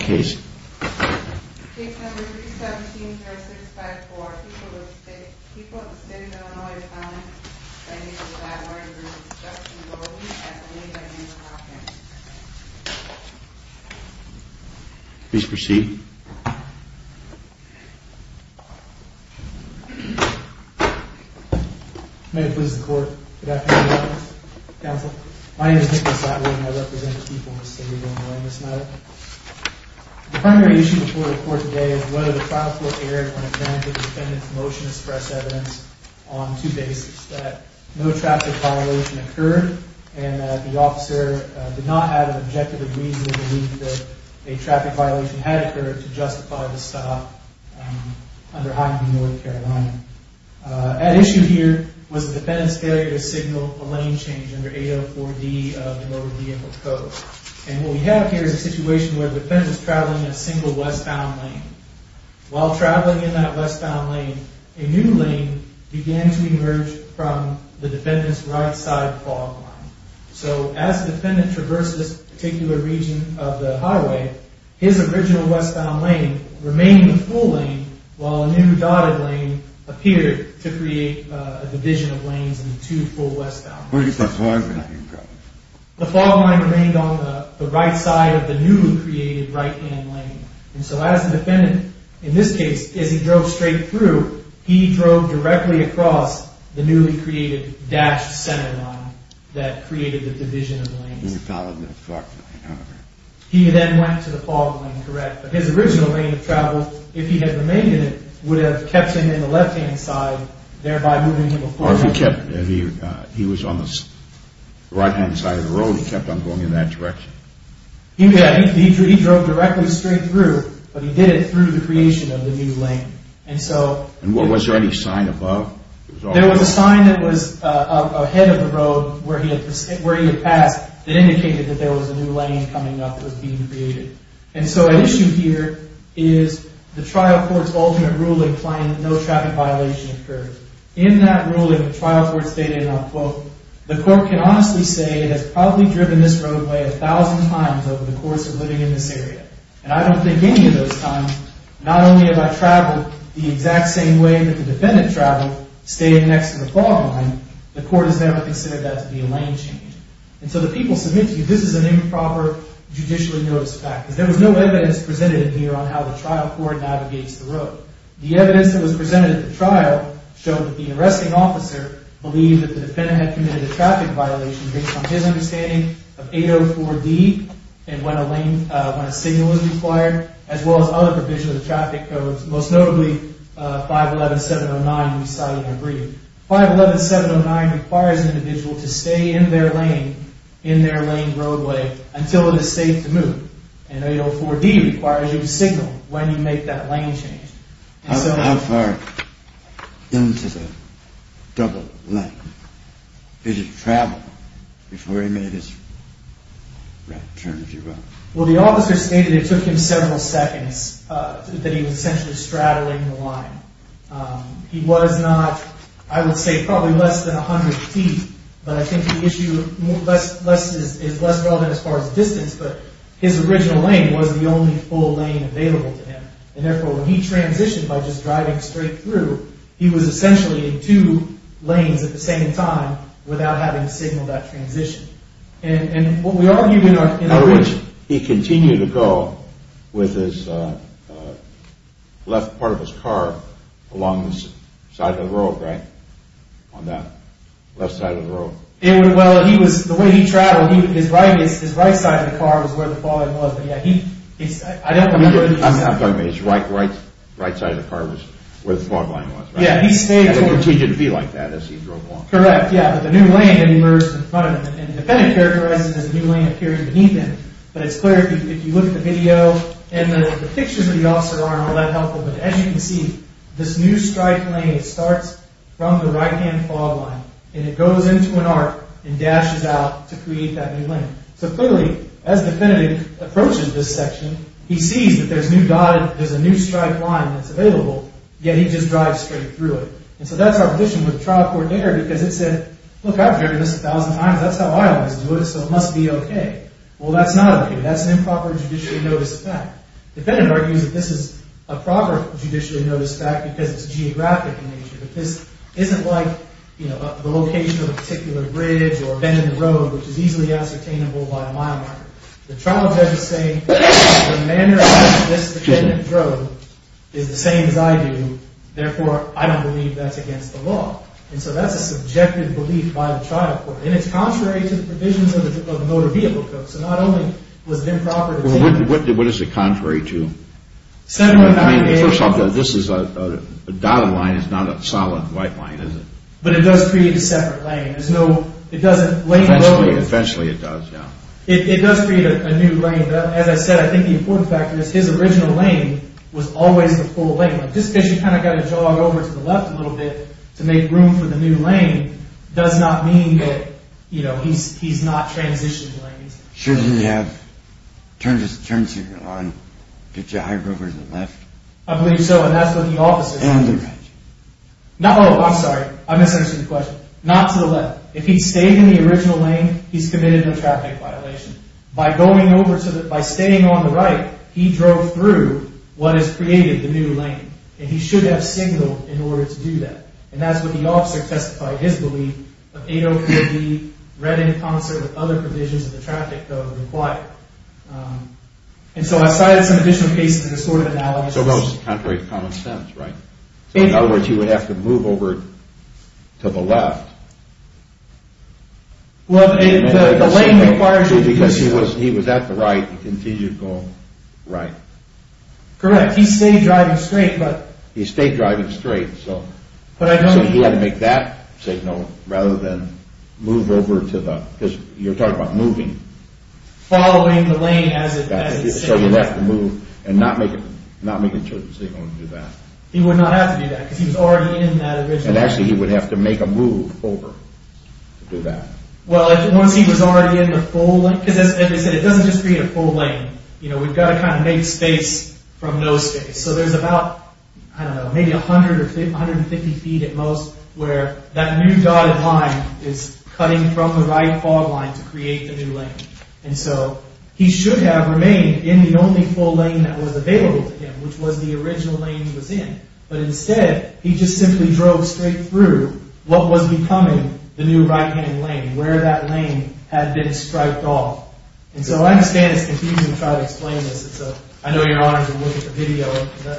Case 317-3654. People have been in Illinois at the time. I need to provide more information to Justice Bowden at a later date in the proceedings. My name is Nicholas Atwood and I represent the people of the city of Illinois in this matter. The primary issue before the court today is whether the trial court erred when it granted the defendant's motion to express evidence on two bases. That no traffic violation occurred and that the officer did not have an objective reason to believe that a traffic violation had occurred to justify the stop under Highway North Carolina. At issue here was the defendant's failure to signal a lane change under 804D of the Motor Vehicle Code. And what we have here is a situation where the defendant is traveling a single westbound lane. While traveling in that westbound lane, a new lane began to emerge from the defendant's right side fog line. So as the defendant traversed this particular region of the highway, his original westbound lane remained the full lane while a new dotted lane appeared to create a division of lanes in the two full westbound lanes. The fog line remained on the right side of the newly created right-hand lane. And so as the defendant, in this case, as he drove straight through, he drove directly across the newly created dashed center line that created the division of lanes. He then went to the fog line, correct? But his original lane of travel, if he had remained in it, would have kept him in the left-hand side, thereby moving him... He was on the right-hand side of the road. He kept on going in that direction. He drove directly straight through, but he did it through the creation of the new lane. And was there any sign above? There was a sign that was ahead of the road where he had passed that indicated that there was a new lane coming up that was being created. And so an issue here is the trial court's ultimate ruling claiming that no traffic violation occurred. In that ruling, the trial court stated, and I'll quote, The court can honestly say it has probably driven this roadway a thousand times over the course of living in this area. And I don't think any of those times, not only have I traveled the exact same way that the defendant traveled, staying next to the fog line, the court has never considered that to be a lane change. And so the people submit to you, this is an improper judicially noticed fact. Because there was no evidence presented in here on how the trial court navigates the road. The evidence that was presented at the trial showed that the arresting officer believed that the defendant had committed a traffic violation based on his understanding of 804D and when a signal was required. As well as other provisions of the traffic codes, most notably 511-709 that we cited in our briefing. 511-709 requires an individual to stay in their lane, in their lane roadway, until it is safe to move. And 804D requires you to signal when you make that lane change. How far into the double lane did he travel before he made his right turn, if you will? Well, the officer stated it took him several seconds, that he was essentially straddling the line. He was not, I would say, probably less than 100 feet. But I think the issue is less relevant as far as distance, but his original lane was the only full lane available to him. And therefore, when he transitioned by just driving straight through, he was essentially in two lanes at the same time without having signaled that transition. In other words, he continued to go with his left part of his car along the side of the road, right? On that left side of the road. Well, he was, the way he traveled, his right side of the car was where the fog line was. I'm talking about his right side of the car was where the fog line was, right? He continued to be like that as he drove along. Correct, yeah, but the new lane emerged in front of him. And the defendant characterized it as a new lane appearing beneath him. But it's clear if you look at the video and the pictures of the officer aren't all that helpful. But as you can see, this new striped lane starts from the right-hand fog line. And it goes into an arc and dashes out to create that new lane. So clearly, as the defendant approaches this section, he sees that there's a new striped line that's available, yet he just drives straight through it. And so that's our position with trial court error because it said, look, I've heard this a thousand times. That's how I always do it, so it must be okay. Well, that's not okay. That's an improper judicially noticed fact. Defendant argues that this is a proper judicially noticed fact because it's geographic in nature. But this isn't like the location of a particular bridge or a bend in the road, which is easily ascertainable by a mile marker. The trial judge is saying the manner in which this defendant drove is the same as I do. Therefore, I don't believe that's against the law. And so that's a subjective belief by the trial court. And it's contrary to the provisions of the Motor Vehicle Code. So not only was it improper to do that. Well, what is it contrary to? I mean, first off, this is a dotted line. It's not a solid white line, is it? But it does create a separate lane. There's no – it doesn't lay below it. Eventually it does, yeah. It does create a new lane. But as I said, I think the important factor is his original lane was always the full lane. Just because you kind of got to jog over to the left a little bit to make room for the new lane does not mean that, you know, he's not transitioned the lane. Shouldn't he have turned his turn signal on to drive over to the left? I believe so, and that's what the officer said. And the right. Oh, I'm sorry. I misunderstood the question. Not to the left. If he stayed in the original lane, he's committed a traffic violation. By going over to the – by staying on the right, he drove through what has created the new lane. And he should have signaled in order to do that. And that's what the officer testified, his belief of 804B read in concert with other provisions of the traffic code required. And so I cited some additional cases in this sort of analysis. So that was contrary to common sense, right? So in other words, you would have to move over to the left. Well, the lane requires – Because he was at the right, he continued to go right. Correct. He stayed driving straight, but – He stayed driving straight, so – But I don't – So he had to make that signal rather than move over to the – because you're talking about moving. Following the lane as it – So you'd have to move and not make a turn signal and do that. He would not have to do that because he was already in that original lane. And actually he would have to make a move over to do that. Well, once he was already in the full lane – because as I said, it doesn't just create a full lane. We've got to kind of make space from no space. So there's about, I don't know, maybe 100 or 150 feet at most where that new dotted line is cutting from the right fog line to create the new lane. And so he should have remained in the only full lane that was available to him, which was the original lane he was in. But instead, he just simply drove straight through what was becoming the new right-hand lane where that lane had been striped off. And so I understand it's confusing to try to explain this. It's a – I know you're honored to look at the video.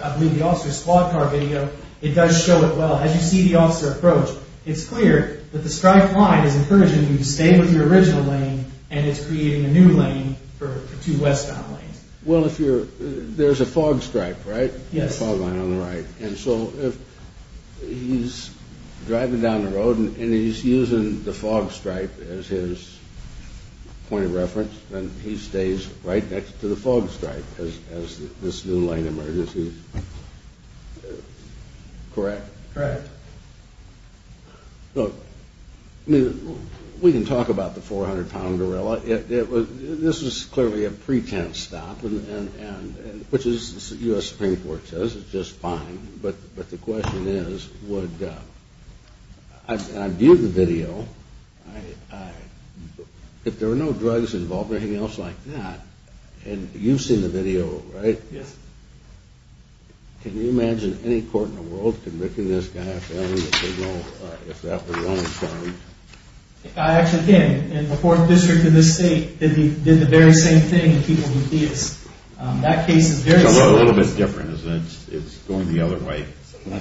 I believe the officer's squad car video. It does show it well. As you see the officer approach, it's clear that the striped line is encouraging you to stay with your original lane, and it's creating a new lane for two westbound lanes. Well, if you're – there's a fog stripe, right? Yes. The fog line on the right. And so if he's driving down the road and he's using the fog stripe as his point of reference, then he stays right next to the fog stripe as this new lane emerges. Correct? Correct. Look, I mean, we can talk about the 400-pound gorilla. This was clearly a pretense stop, which the U.S. Supreme Court says is just fine. But the question is would – and I viewed the video. If there were no drugs involved or anything else like that – and you've seen the video, right? Yes. Can you imagine any court in the world convicting this guy if that was the only charge? I actually can. In the fourth district of this state, they did the very same thing with people who do this. That case is very similar. It's a little bit different, isn't it? It's going the other way. Well,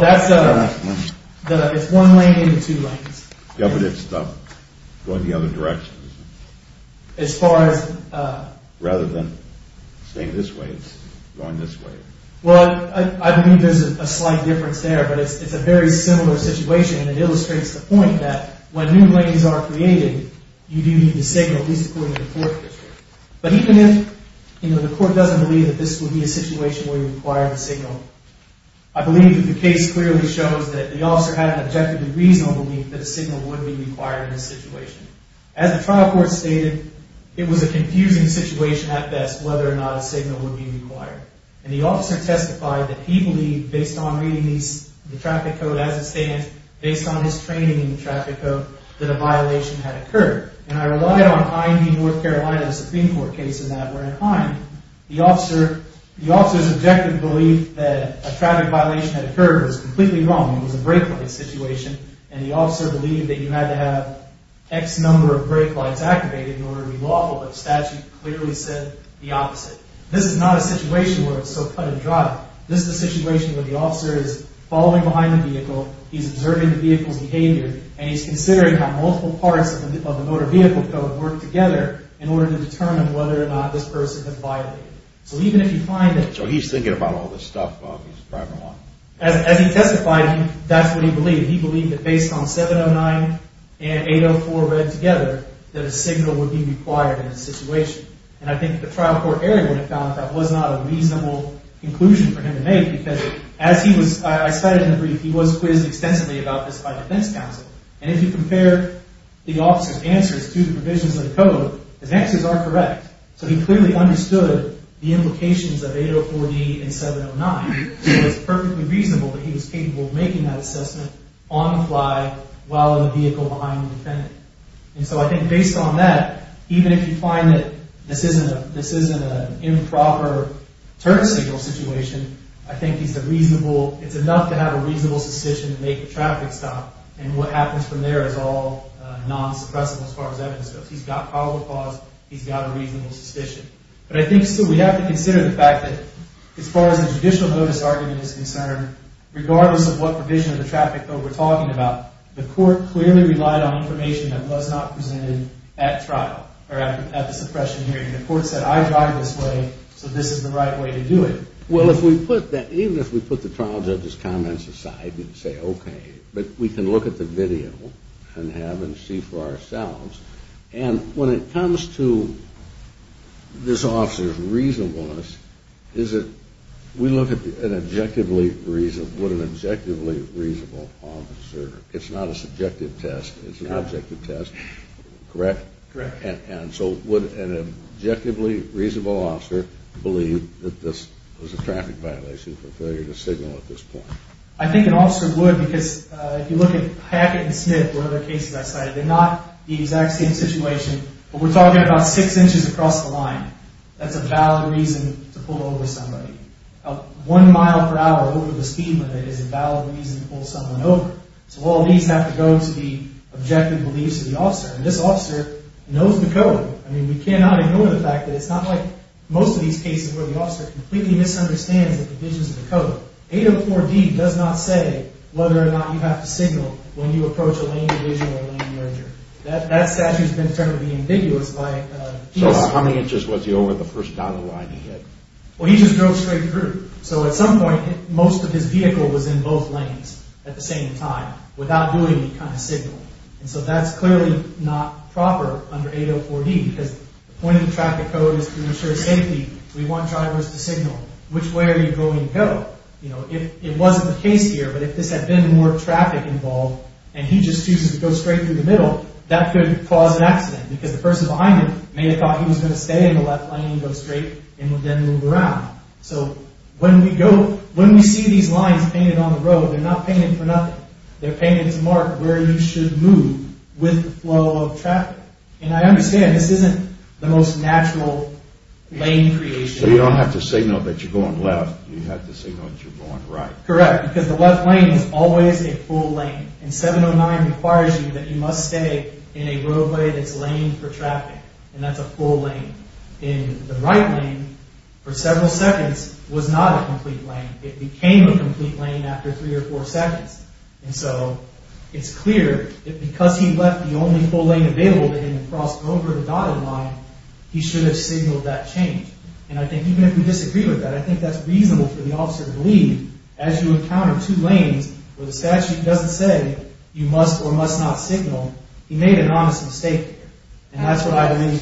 that's – it's one lane and two lanes. Yeah, but it's going the other direction, isn't it? As far as – It's not going this way. It's going this way. Well, I believe there's a slight difference there, but it's a very similar situation, and it illustrates the point that when new lanes are created, you do need to signal, at least according to the fourth district. But even if, you know, the court doesn't believe that this would be a situation where you require the signal, I believe that the case clearly shows that the officer had an objectively reasonable belief that a signal would be required in this situation. As the trial court stated, it was a confusing situation at best whether or not a signal would be required. And the officer testified that he believed, based on reading the traffic code as it stands, based on his training in the traffic code, that a violation had occurred. And I relied on IND North Carolina's Supreme Court case in that we're inclined. The officer's objective belief that a traffic violation had occurred was completely wrong. It was a brake light situation. And the officer believed that you had to have X number of brake lights activated in order to be lawful, but the statute clearly said the opposite. This is not a situation where it's so cut and dry. This is a situation where the officer is following behind the vehicle, he's observing the vehicle's behavior, and he's considering how multiple parts of the motor vehicle code work together in order to determine whether or not this person had violated it. So even if you find that... So he's thinking about all this stuff while he's driving along. As he testified, that's what he believed. He believed that based on 709 and 804 read together, that a signal would be required in this situation. And I think the trial court area would have found that that was not a reasonable conclusion for him to make, because as he was... I cited in the brief, he was quizzed extensively about this by defense counsel. And if you compare the officer's answers to the provisions of the code, his answers are correct. So he clearly understood the implications of 804D and 709. It was perfectly reasonable that he was capable of making that assessment on the fly while in the vehicle behind the defendant. And so I think based on that, even if you find that this isn't an improper turn signal situation, I think it's enough to have a reasonable suspicion to make a traffic stop. And what happens from there is all non-suppressible as far as evidence goes. He's got probable cause. He's got a reasonable suspicion. But I think still we have to consider the fact that as far as the judicial notice argument is concerned, regardless of what provision of the traffic code we're talking about, the court clearly relied on information that was not presented at trial or at the suppression hearing. The court said, I drive this way, so this is the right way to do it. Well, if we put that... Even if we put the trial judge's comments aside and say, okay, but we can look at the video and have and see for ourselves. And when it comes to this officer's reasonableness, we look at an objectively reasonable officer. It's not a subjective test. It's an objective test. Correct? Correct. And so would an objectively reasonable officer believe that this was a traffic violation for failure to signal at this point? I think an officer would because if you look at Hackett and Smith, or other cases I cited, they're not the exact same situation. But we're talking about six inches across the line. That's a valid reason to pull over somebody. One mile per hour over the speed limit is a valid reason to pull someone over. So all these have to go to the objective beliefs of the officer. And this officer knows the code. I mean, we cannot ignore the fact that it's not like most of these cases where the officer completely misunderstands the provisions of the code. 804D does not say whether or not you have to signal when you approach a lane division or a lane merger. That statute has been termed ambiguous. So how many inches was he over the first dotted line he hit? Well, he just drove straight through. So at some point, most of his vehicle was in both lanes at the same time without doing any kind of signal. And so that's clearly not proper under 804D because the point of the traffic code is to ensure safety. We want drivers to signal. Which way are you going to go? It wasn't the case here, but if this had been more traffic involved and he just chooses to go straight through the middle, that could cause an accident because the person behind him may have thought he was going to stay in the left lane and go straight and then move around. So when we see these lines painted on the road, they're not painted for nothing. They're painted to mark where you should move with the flow of traffic. And I understand this isn't the most natural lane creation. So you don't have to signal that you're going left. You have to signal that you're going right. Correct, because the left lane is always a full lane. And 709 requires you that you must stay in a roadway that's laned for traffic. And that's a full lane. And the right lane, for several seconds, was not a complete lane. It became a complete lane after three or four seconds. And so it's clear that because he left the only full lane available to him across over the dotted line, he should have signaled that change. And I think even if we disagree with that, I think that's reasonable for the officer to believe. As you encounter two lanes where the statute doesn't say you must or must not signal, he made an honest mistake here. And that's what I believe.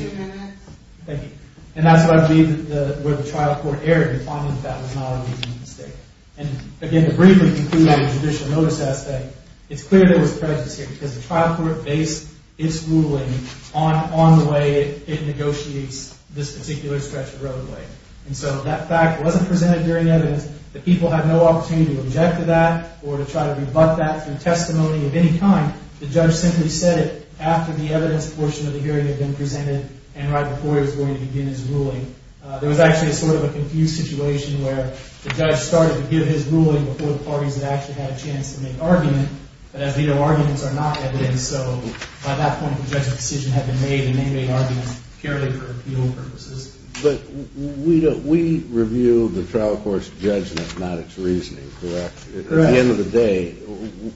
Thank you. And that's what I believe where the trial court erred in finding that that was not a reasonable mistake. And again, to briefly conclude on the judicial notice aspect, it's clear there was prejudice here because the trial court based its ruling on the way it negotiates this particular stretch of roadway. And so that fact wasn't presented during evidence. The people have no opportunity to object to that or to try to rebut that through testimony of any kind. The judge simply said it after the evidence portion of the hearing had been presented and right before he was going to begin his ruling. There was actually sort of a confused situation where the judge started to give his ruling before the parties had actually had a chance to make argument. But as we know, arguments are not evidence. And so by that point, the judge's decision had been made, and they made arguments purely for appeal purposes. But we review the trial court's judgment, not its reasoning, correct? Correct. At the end of the day,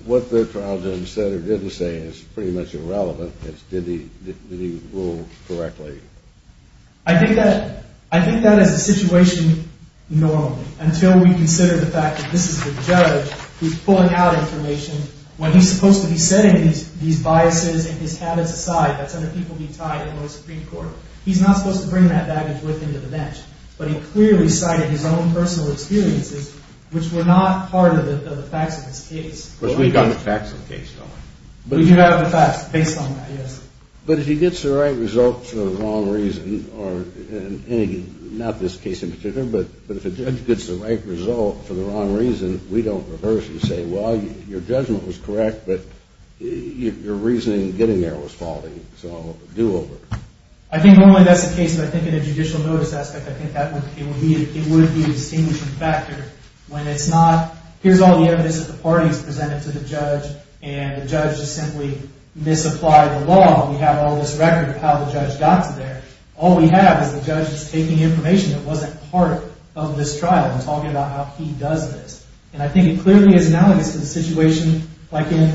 what the trial judge said or didn't say is pretty much irrelevant. It's did he rule correctly. I think that is the situation normally until we consider the fact that this is the judge who's pulling out information when he's supposed to be setting these biases and his habits aside. That's under people being tied in the Supreme Court. He's not supposed to bring that baggage with him to the bench. But he clearly cited his own personal experiences, which were not part of the facts of his case. But we've got the facts of the case, though. We do have the facts based on that, yes. But if he gets the right result for the wrong reason, or not this case in particular, but if a judge gets the right result for the wrong reason, we don't reverse and say, well, your judgment was correct, but your reasoning in getting there was faulty, so do over. I think normally that's the case, but I think in a judicial notice aspect, I think it would be a distinguishing factor when it's not, here's all the evidence that the parties presented to the judge, and the judge just simply misapplied the law. We have all this record of how the judge got to there. All we have is the judge just taking information that wasn't part of this trial and talking about how he does this. And I think it clearly is analogous to the situation like in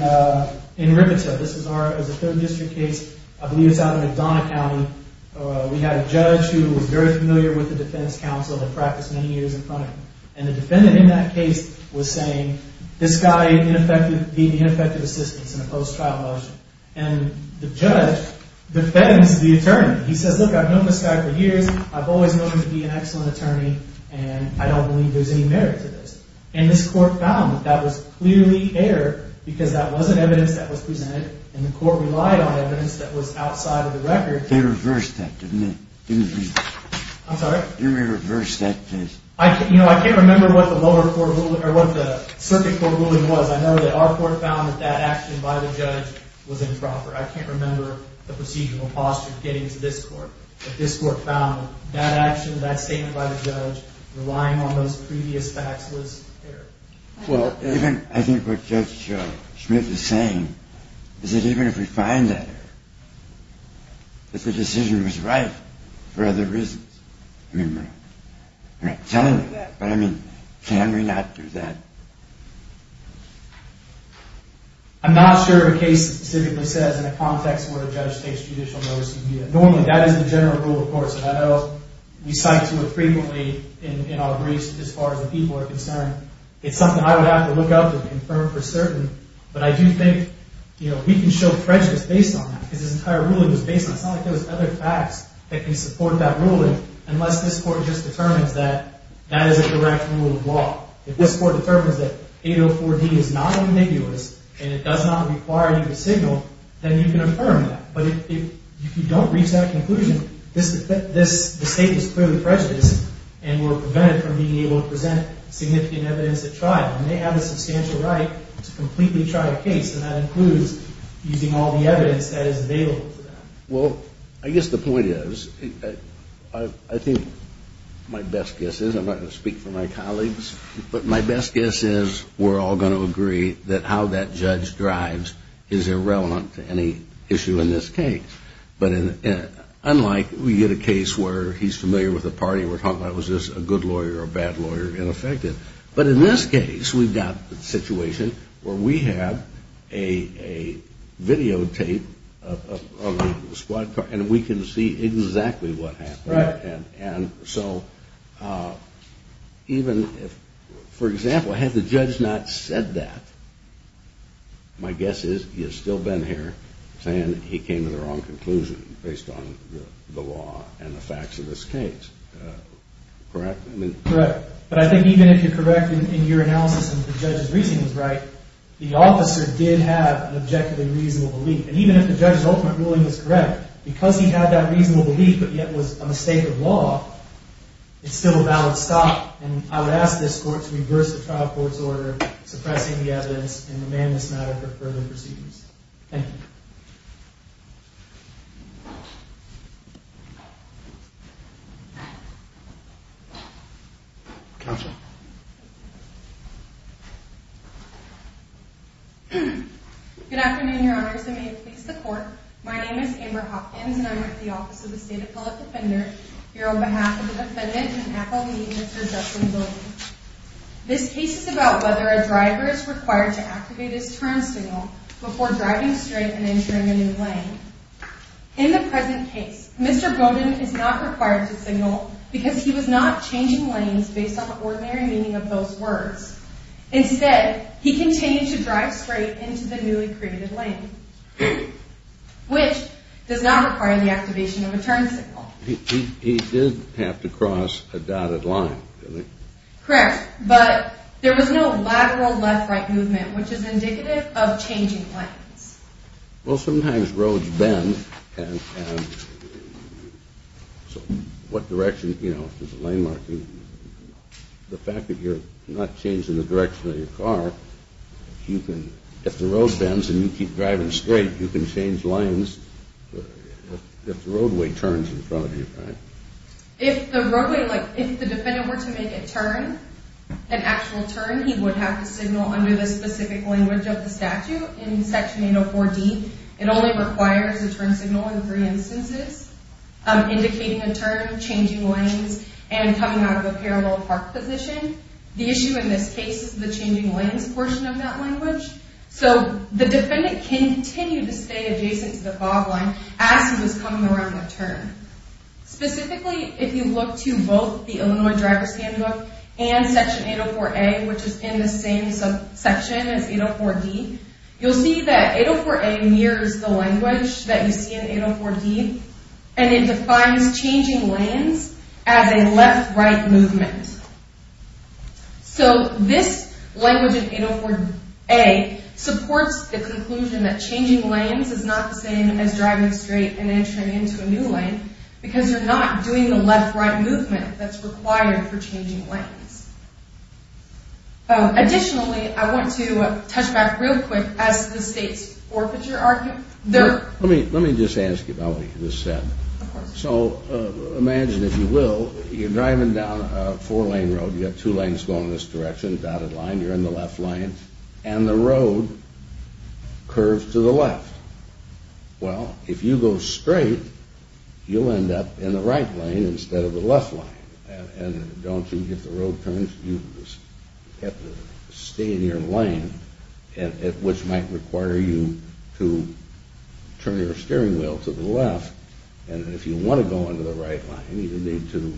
Rivita. This is a third district case. I believe it's out in McDonough County. We had a judge who was very familiar with the defense counsel and practiced many years in front of him. And the defendant in that case was saying, this guy being ineffective assistance in a post-trial motion. And the judge defends the attorney. He says, look, I've known this guy for years. I've always known him to be an excellent attorney, and I don't believe there's any merit to this. And this court found that that was clearly error because that wasn't evidence that was presented, and the court relied on evidence that was outside of the record. They reversed that, didn't they? I'm sorry? They reversed that case. I can't remember what the circuit court ruling was. I know that our court found that that action by the judge was improper. I can't remember the procedural posture of getting to this court. But this court found that action, that statement by the judge, relying on those previous facts was error. Well, I think what Judge Smith is saying is that even if we find that error, that the decision was right for other reasons. I mean, we're not telling you that, but, I mean, can we not do that? I'm not sure if a case specifically says in a context where a judge takes judicial notice. Normally, that is the general rule of courts, and I know we cite to it frequently in our briefs as far as the people are concerned. It's something I would have to look up and confirm for certain, but I do think we can show prejudice based on that because this entire ruling was based on it. It's not like there was other facts that can support that ruling If this court determines that 804D is not ambiguous and it does not require you to signal, then you can affirm that. But if you don't reach that conclusion, the state is clearly prejudiced and we're prevented from being able to present significant evidence at trial. And they have a substantial right to completely try a case, and that includes using all the evidence that is available to them. Well, I guess the point is, I think my best guess is, and I'm not going to speak for my colleagues, but my best guess is we're all going to agree that how that judge drives is irrelevant to any issue in this case. But unlike we get a case where he's familiar with the party, and we're talking about was this a good lawyer or a bad lawyer, ineffective. But in this case, we've got a situation where we have a videotape of the squad car, and we can see exactly what happened. Right. And so even if, for example, had the judge not said that, my guess is he would still have been here saying he came to the wrong conclusion based on the law and the facts of this case. Correct? Correct. But I think even if you're correct in your analysis and the judge's reasoning is right, the officer did have an objectively reasonable belief. And even if the judge's ultimate ruling was correct, because he had that reasonable belief but yet was a mistake of law, it's still a valid stop. And I would ask this court to reverse the trial court's order suppressing the evidence and demand this matter for further proceedings. Thank you. Counsel. Good afternoon, Your Honors, and may it please the Court. My name is Amber Hopkins, and I'm with the Office of the State Appellate Defender. Here on behalf of the defendant and appellee, Mr. Justin Bowden. This case is about whether a driver is required to activate his turn signal before driving straight and entering a new lane. In the present case, Mr. Bowden is not required to signal because he was not changing lanes based on the ordinary meaning of those words. Instead, he continued to drive straight into the newly created lane, which does not require the activation of a turn signal. He did have to cross a dotted line, didn't he? Correct. But there was no lateral left-right movement, which is indicative of changing lanes. Well, sometimes roads bend. So what direction, you know, is the lane marking? The fact that you're not changing the direction of your car, you can, if the road bends and you keep driving straight, you can change lanes if the roadway turns in front of you, right? If the roadway, like if the defendant were to make a turn, an actual turn, he would have to signal under the specific language of the statute in Section 804D. It only requires a turn signal in three instances, indicating a turn, changing lanes, and coming out of a parallel park position. The issue in this case is the changing lanes portion of that language. So the defendant can continue to stay adjacent to the fog line as he was coming around the turn. Specifically, if you look to both the Illinois Driver's Handbook and Section 804A, which is in the same section as 804D, you'll see that 804A mirrors the language that you see in 804D. And it defines changing lanes as a left-right movement. So this language in 804A supports the conclusion that changing lanes is not the same as driving straight and entering into a new lane because you're not doing the left-right movement that's required for changing lanes. Additionally, I want to touch back real quick as to the state's forfeiture argument. Let me just ask you about what you just said. So imagine, if you will, you're driving down a four-lane road. You've got two lanes going in this direction, a dotted line. You're in the left lane, and the road curves to the left. Well, if you go straight, you'll end up in the right lane instead of the left lane. And don't you get the road turns? You have to stay in your lane, which might require you to turn your steering wheel to the left. And if you want to go into the right lane, you need to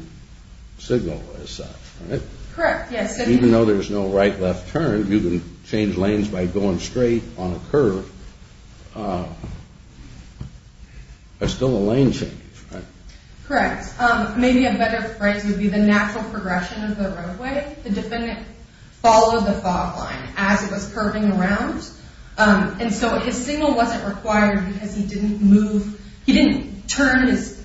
signal as such, right? Correct, yes. Even though there's no right-left turn, you can change lanes by going straight on a curve. It's still a lane change, right? Correct. Maybe a better phrase would be the natural progression of the roadway. The defendant followed the fog line as it was curving around. And so his signal wasn't required because he didn't turn his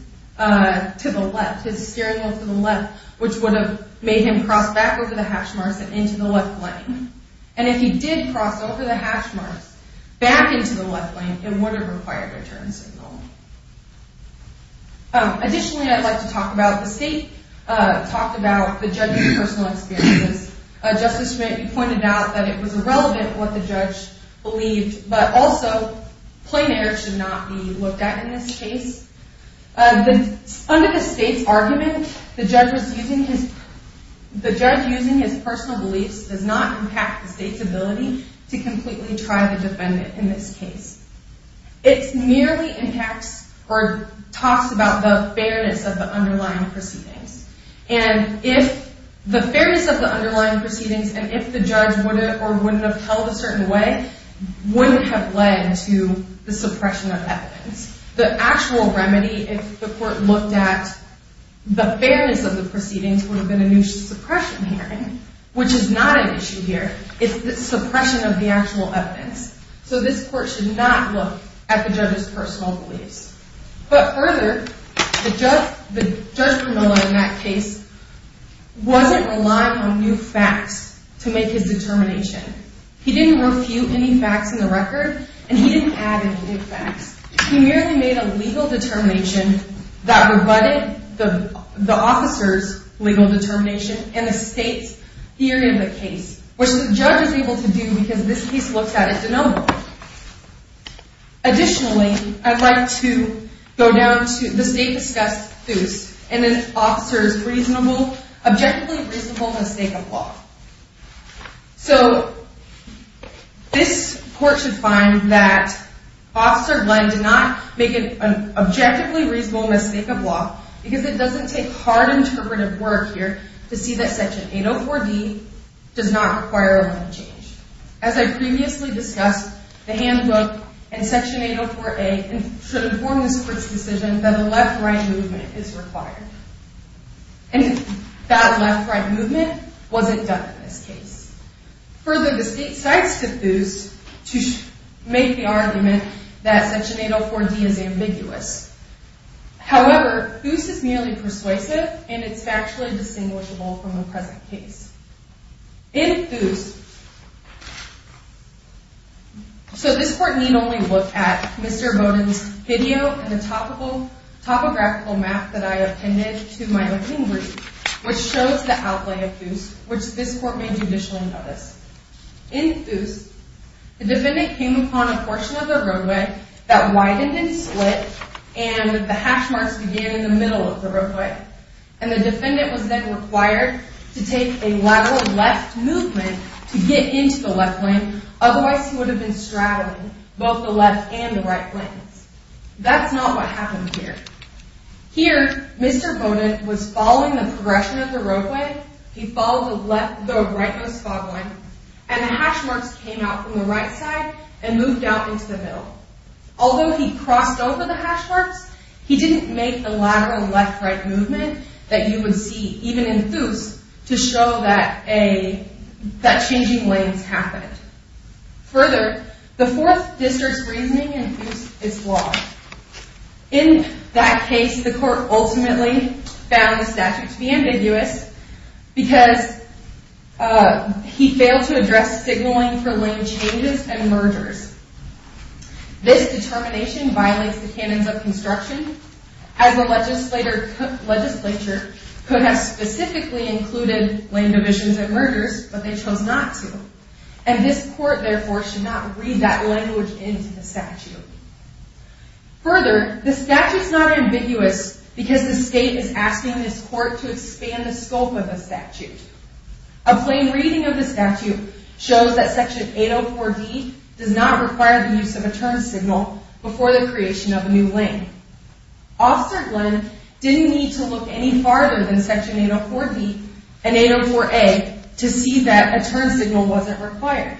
steering wheel to the left, which would have made him cross back over the hash marks and into the left lane. And if he did cross over the hash marks back into the left lane, it would have required a turn signal. Additionally, I'd like to talk about the state, talk about the judge's personal experiences. Justice Schmitt, you pointed out that it was irrelevant what the judge believed, but also, plain air should not be looked at in this case. Under the state's argument, the judge using his personal beliefs does not impact the state's ability to completely try the defendant in this case. It merely impacts or talks about the fairness of the underlying proceedings. And if the fairness of the underlying proceedings, and if the judge would have or wouldn't have held a certain way, wouldn't have led to the suppression of evidence. The actual remedy, if the court looked at the fairness of the proceedings, would have been a new suppression hearing, which is not an issue here. It's the suppression of the actual evidence. So this court should not look at the judge's personal beliefs. But further, the judge in that case wasn't relying on new facts to make his determination. He didn't refute any facts in the record, and he didn't add any new facts. He merely made a legal determination that rebutted the officer's legal determination and the state's theory of the case, which the judge is able to do because this case looks at it denominally. Additionally, I'd like to go down to the state-discussed theus, and then the officer's objectively reasonable mistake of law. So this court should find that Officer Glenn did not make an objectively reasonable mistake of law because it doesn't take hard interpretive work here to see that Section 804D does not require a limit change. As I previously discussed, the handbook and Section 804A should inform this court's decision that a left-right movement is required. And that left-right movement wasn't done in this case. Further, the state cites the theus to make the argument that Section 804D is ambiguous. However, theus is merely persuasive, and it's factually distinguishable from the present case. In theus, so this court need only look at Mr. Bowden's video and the topographical map that I appended to my opening brief, which shows the outlay of theus, which this court may judicially notice. In theus, the defendant came upon a portion of the roadway that widened and split, and the hash marks began in the middle of the roadway. And the defendant was then required to take a lateral left movement to get into the left lane, otherwise he would have been straddling both the left and the right lanes. That's not what happened here. Here, Mr. Bowden was following the progression of the roadway. He followed the rightmost fog line, and the hash marks came out from the right side and moved out into the middle. Although he crossed over the hash marks, he didn't make the lateral left-right movement that you would see even in theus to show that changing lanes happened. Further, the Fourth District's reasoning in theus is flawed. In that case, the court ultimately found the statute to be ambiguous because he failed to address signaling for lane changes and mergers. This determination violates the canons of construction, as the legislature could have specifically included lane divisions and mergers, but they chose not to. And this court, therefore, should not read that language into the statute. Further, the statute is not ambiguous because the state is asking this court to expand the scope of the statute. A plain reading of the statute shows that Section 804D does not require the use of a turn signal before the creation of a new lane. Officer Glenn didn't need to look any farther than Section 804D and 804A to see that a turn signal wasn't required.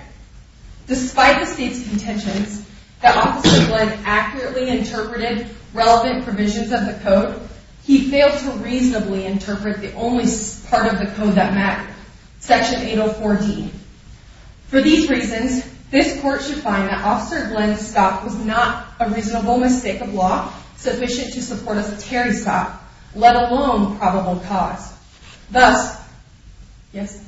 Despite the state's contentions that Officer Glenn accurately interpreted relevant provisions of the code, he failed to reasonably interpret the only part of the code that mattered, Section 804D. For these reasons, this court should find that Officer Glenn's stop was not a reasonable mistake of law sufficient to support a security stop, let alone probable cause. Yes?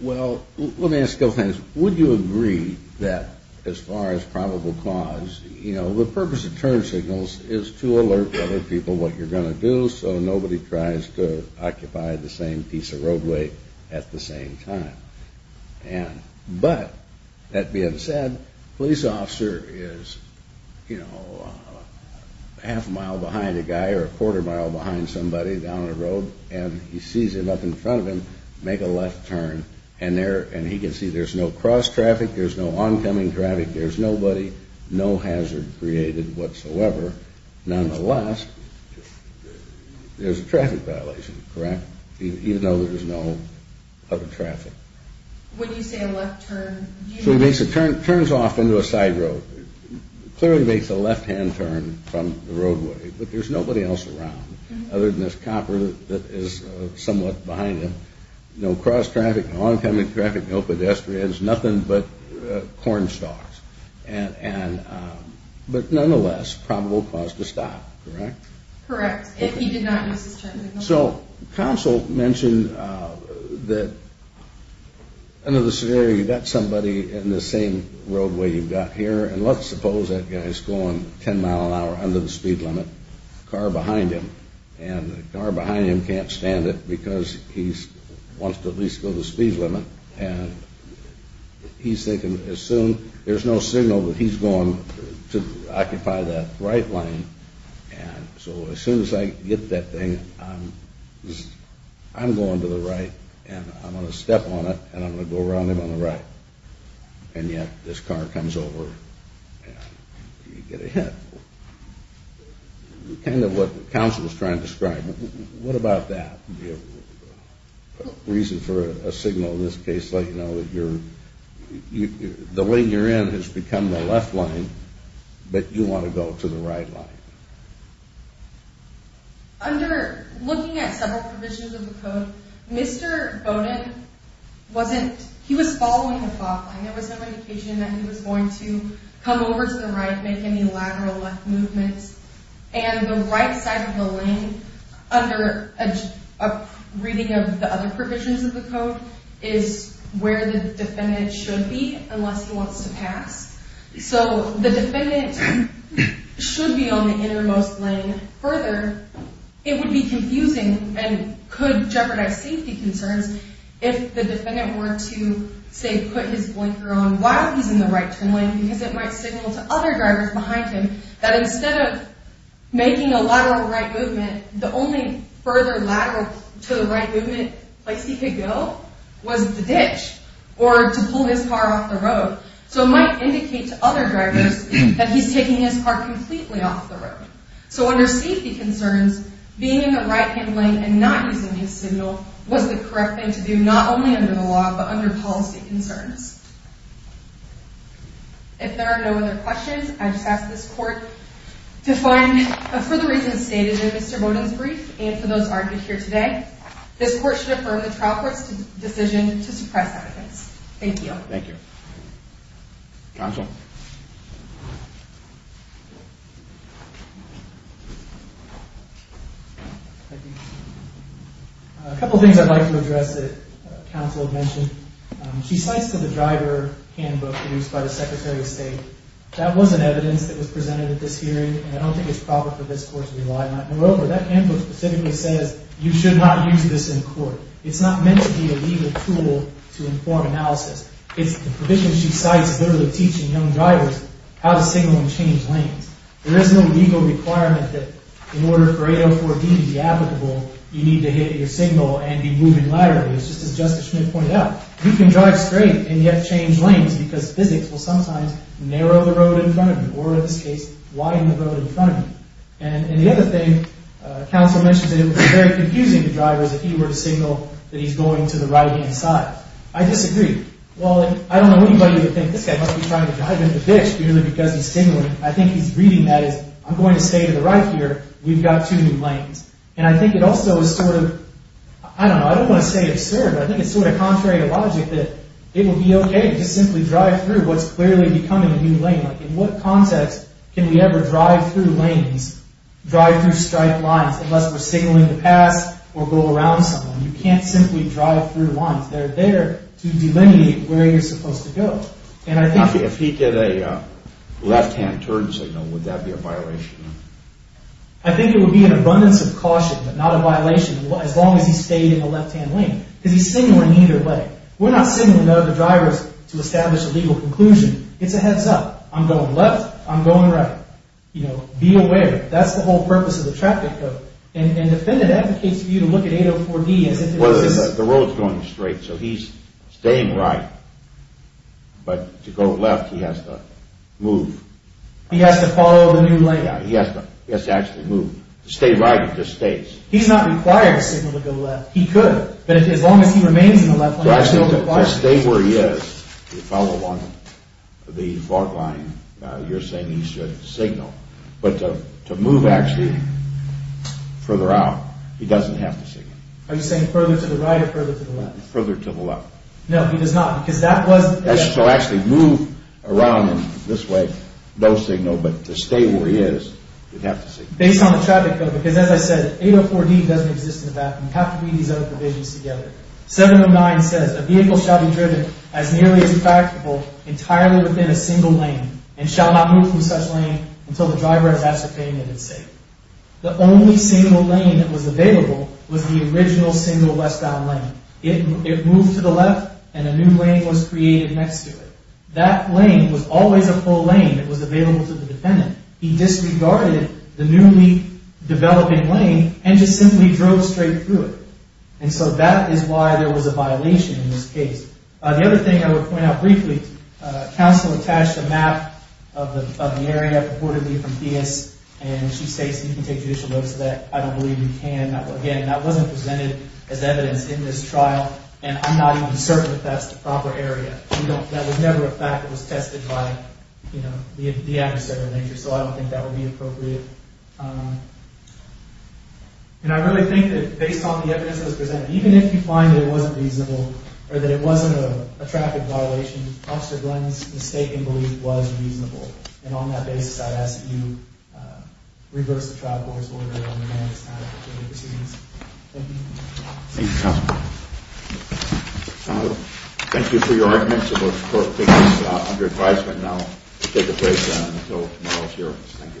Well, let me ask a couple things. Would you agree that as far as probable cause, you know, the purpose of turn signals is to alert other people what you're going to do so nobody tries to occupy the same piece of roadway at the same time? But, that being said, police officer is, you know, half a mile behind a guy or a quarter mile behind somebody down the road, and he sees them up in front of him make a left turn, and he can see there's no cross traffic, there's no oncoming traffic, there's nobody, no hazard created whatsoever. Nonetheless, there's a traffic violation, correct? Even though there's no other traffic. When you say a left turn, do you mean... So he makes a turn, turns off into a side road. Clearly makes a left-hand turn from the roadway, but there's nobody else around other than this copper that is somewhat behind him. No cross traffic, no oncoming traffic, no pedestrians, nothing but corn stalks. But nonetheless, probable cause to stop, correct? Correct, if he did not use his turn signal. So, counsel mentioned that under the scenario you've got somebody in the same roadway you've got here, and let's suppose that guy's going 10 mile an hour under the speed limit, car behind him, and the car behind him can't stand it because he wants to at least go the speed limit, and he's thinking, assume there's no signal that he's going to occupy that right lane, and so as soon as I get that thing, I'm going to the right, and I'm going to step on it, and I'm going to go around him on the right. And yet, this car comes over, and you get a hit. Kind of what counsel was trying to describe. What about that? The reason for a signal in this case, let you know that the lane you're in has become the left lane, but you want to go to the right lane. Under looking at several provisions of the code, Mr. Bowden wasn't, he was following a thought line. There was no indication that he was going to come over to the right, make any lateral left movements, and the right side of the lane, under a reading of the other provisions of the code, is where the defendant should be unless he wants to pass. So the defendant should be on the innermost lane further. It would be confusing and could jeopardize safety concerns if the defendant were to, say, put his blinker on while he's in the right turn lane because it might signal to other drivers behind him that instead of making a lateral right movement, the only further lateral to the right movement place he could go was the ditch, or to pull his car off the road. So it might indicate to other drivers that he's taking his car completely off the road. So under safety concerns, being in the right-hand lane and not using his signal was the correct thing to do, not only under the law, but under policy concerns. If there are no other questions, I just ask this court to find, for the reasons stated in Mr. Bowdoin's brief and for those argued here today, this court should affirm the trial court's decision to suppress evidence. Thank you. Thank you. Counsel? A couple things I'd like to address that counsel mentioned. She cites the driver handbook produced by the Secretary of State. That was an evidence that was presented at this hearing, and I don't think it's proper for this court to rely on it. Moreover, that handbook specifically says you should not use this in court. It's not meant to be a legal tool to inform analysis. The provision she cites is literally teaching young drivers how to signal and change lanes. There is no legal requirement that in order for 804B to be applicable, you need to hit your signal and be moving laterally. It's just as Justice Schmidt pointed out. You can drive straight and yet change lanes because physics will sometimes narrow the road in front of you, or in this case, widen the road in front of you. And the other thing counsel mentioned is that it would be very confusing to drivers if he were to signal that he's going to the right-hand side. I disagree. While I don't know anybody who would think this guy must be trying to drive into the ditch purely because he's signaling, I think he's reading that as, I'm going to stay to the right here. We've got two new lanes. And I think it also is sort of, I don't know, I don't want to say absurd, but I think it's sort of contrary to logic that it would be okay to simply drive through what's clearly becoming a new lane. Like in what context can we ever drive through lanes, drive through striped lines, unless we're signaling to pass or go around someone? You can't simply drive through lines. They're there to delineate where you're supposed to go. And I think… If he did a left-hand turn signal, would that be a violation? I think it would be an abundance of caution, but not a violation, as long as he stayed in the left-hand lane. Because he's signaling either way. We're not signaling to other drivers to establish a legal conclusion. It's a heads-up. I'm going left. I'm going right. You know, be aware. That's the whole purpose of the traffic code. And the defendant advocates for you to look at 804B as if it was… Well, the road's going straight, so he's staying right. But to go left, he has to move. He has to follow the new lane. He has to actually move. To stay right, he just stays. He's not required to signal to go left. He could. But as long as he remains in the left lane, he still requires it. To stay where he is, to follow along the fog line, you're saying he should signal. But to move, actually, further out, he doesn't have to signal. Are you saying further to the right or further to the left? Further to the left. No, he does not. Because that was… So actually move around in this way, no signal. But to stay where he is, you'd have to signal. Based on the traffic code, because as I said, 804B doesn't exist in the background. You have to read these other provisions together. 709 says a vehicle shall be driven as nearly as a practical entirely within a single lane and shall not move from such lane until the driver has ascertained that it's safe. The only single lane that was available was the original single westbound lane. It moved to the left and a new lane was created next to it. That lane was always a full lane. It was available to the defendant. He disregarded the newly developing lane and just simply drove straight through it. And so that is why there was a violation in this case. The other thing I would point out briefly, counsel attached a map of the area purportedly from Theis, and she states you can take judicial notes of that. I don't believe you can. Again, that wasn't presented as evidence in this trial, and I'm not even certain that that's the proper area. That was never a fact that was tested by the adversarial nature, so I don't think that would be appropriate. And I really think that based on the evidence that was presented, even if you find that it wasn't reasonable or that it wasn't a traffic violation, Officer Glenn's mistaken belief was reasonable, and on that basis, I ask that you reverse the trial court's order on the next time for further proceedings. Thank you. Thank you, counsel. Thank you for your arguments. The court is under advisement now to take a break until tomorrow's hearings. Thank you. Thank you. He's out. It's going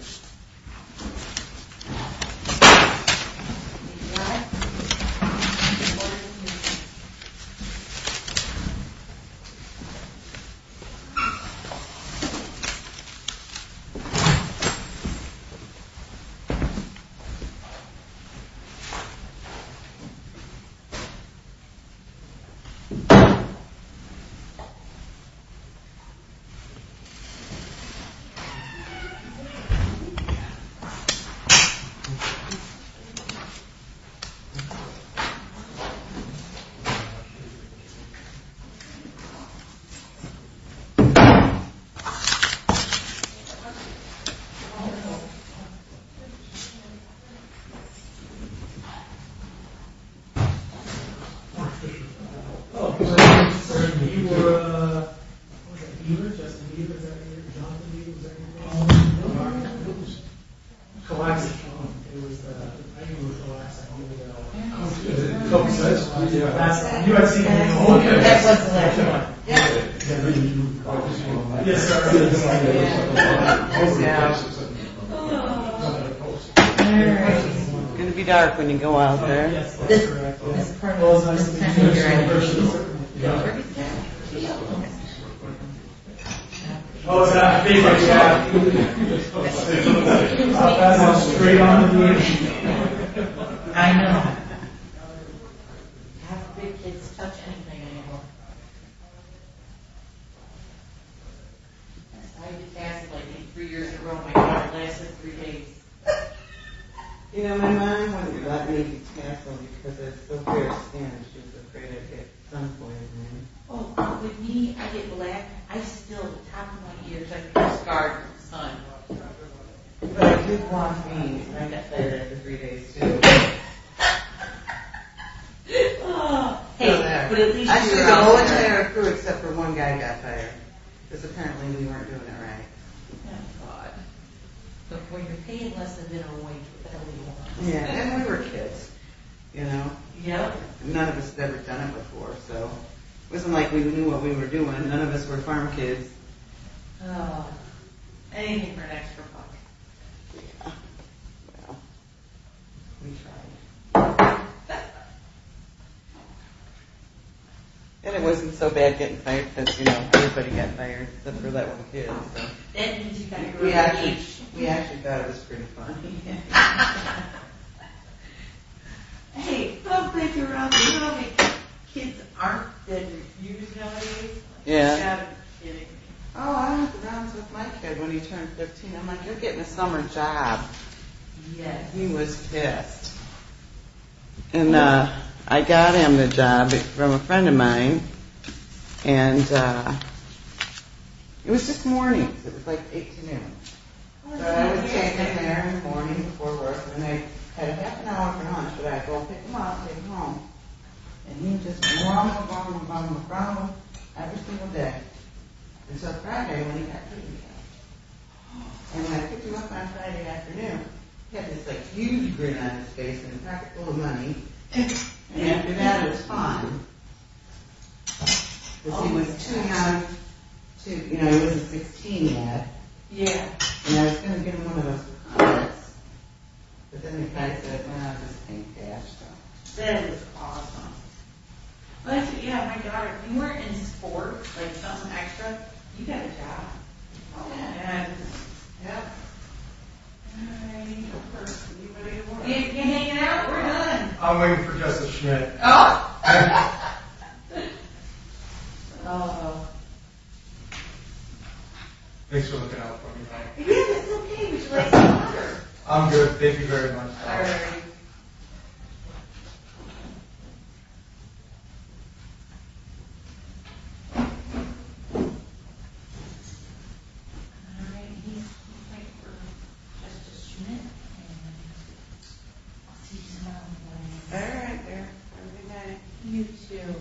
to be dark when you go out there. Oh, stop. I know. Half of the kids touch anything anymore. I know. I had to tassel, I think, three years in a row. My hair lasted three days. You know, my mom wouldn't let me tassel because I still wear a stand, and she was afraid I'd get sunburned. Oh, with me, I get black. I still, the top of my ears, I get a scar from the sun. But it did wash me, and I got better after three days, too. Ha! Hey, but at least you got better. I stood all the way through except for one guy got better, because apparently we weren't doing it right. Oh, God. But when you're paying less than dinner away, you're paying more. Yeah, and we were kids. You know? Yep. None of us had ever done it before, so it wasn't like we knew what we were doing. None of us were farm kids. Oh. Anything for an extra buck. Yeah. Yeah. We tried. And it wasn't so bad getting fired, because, you know, everybody got fired, except for that one kid, so. That means you got to grow up. We actually thought it was pretty funny. Yeah. Ha, ha, ha, ha, ha. Hey, don't break it around me. You know how many kids aren't getting used nowadays? Yeah. Stop kidding me. Oh, I had the rounds with my kid when he turned 15. I'm like, you're getting a summer job. Yeah. He was pissed. And I got him the job from a friend of mine, and it was just mornings. It was like 8 to noon. So I would take him there in the morning before work, and then they had a half an hour for lunch, but I'd go pick him up, take him home. And he'd just grumble, grumble, grumble in front of them every single day. And so Friday morning, he got paid again. And when I picked him up on Friday afternoon, he had this, like, huge grin on his face, and a packet full of money. And after that, it was fine. Because he was too young to, you know, he was a 16-year-old. Yeah. And I was going to give him one of those chocolates. But then the guy said, well, I'm just paying cash, so. That is awesome. Yeah, my daughter, if you weren't in sport, like something extra, you got a job. Oh, yeah. And, yep. And I need your purse. Can you hang it out? We're done. I'm waiting for Justice Schmitt. Oh! Thank you. Oh. Thanks for looking out for me, by the way. Yeah, it's okay. We should let you know. I'm good. Thank you very much. Alright. Thank you. Alright, I'm going to wait for Justice Schmitt, and I'll see you tomorrow morning. Alright, yeah. Have a good night. You, too.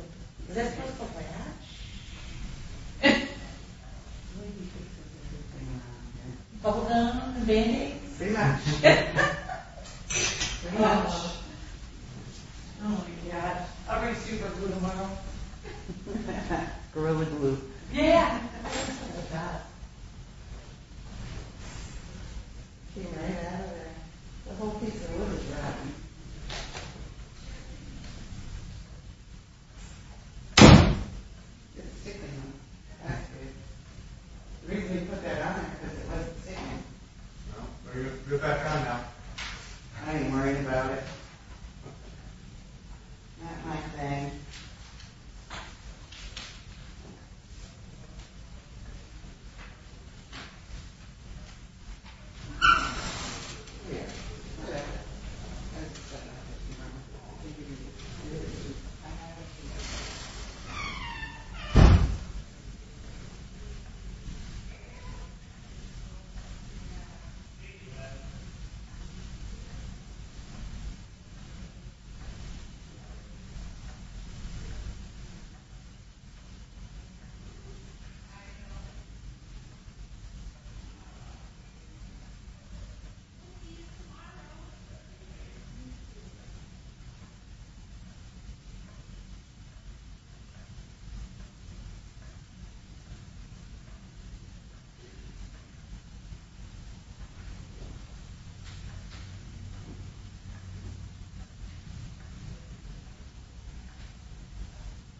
Is that supposed to look like ash? Bubble gum on the band-aid? Pretty much. Pretty much. Oh, my gosh. I'll be super-glued tomorrow. Gorilla glue. Yeah! Oh, my gosh. It came right out of there. The whole piece of wood was rotting. It's sticking on it. That's good. The reason we put that on it is because it wasn't sticking. Well, you're back on now. I ain't worried about it. Not my thing. Oh, my gosh. I know. We'll see you tomorrow. Thank you. Oh, my gosh. Oh, my gosh.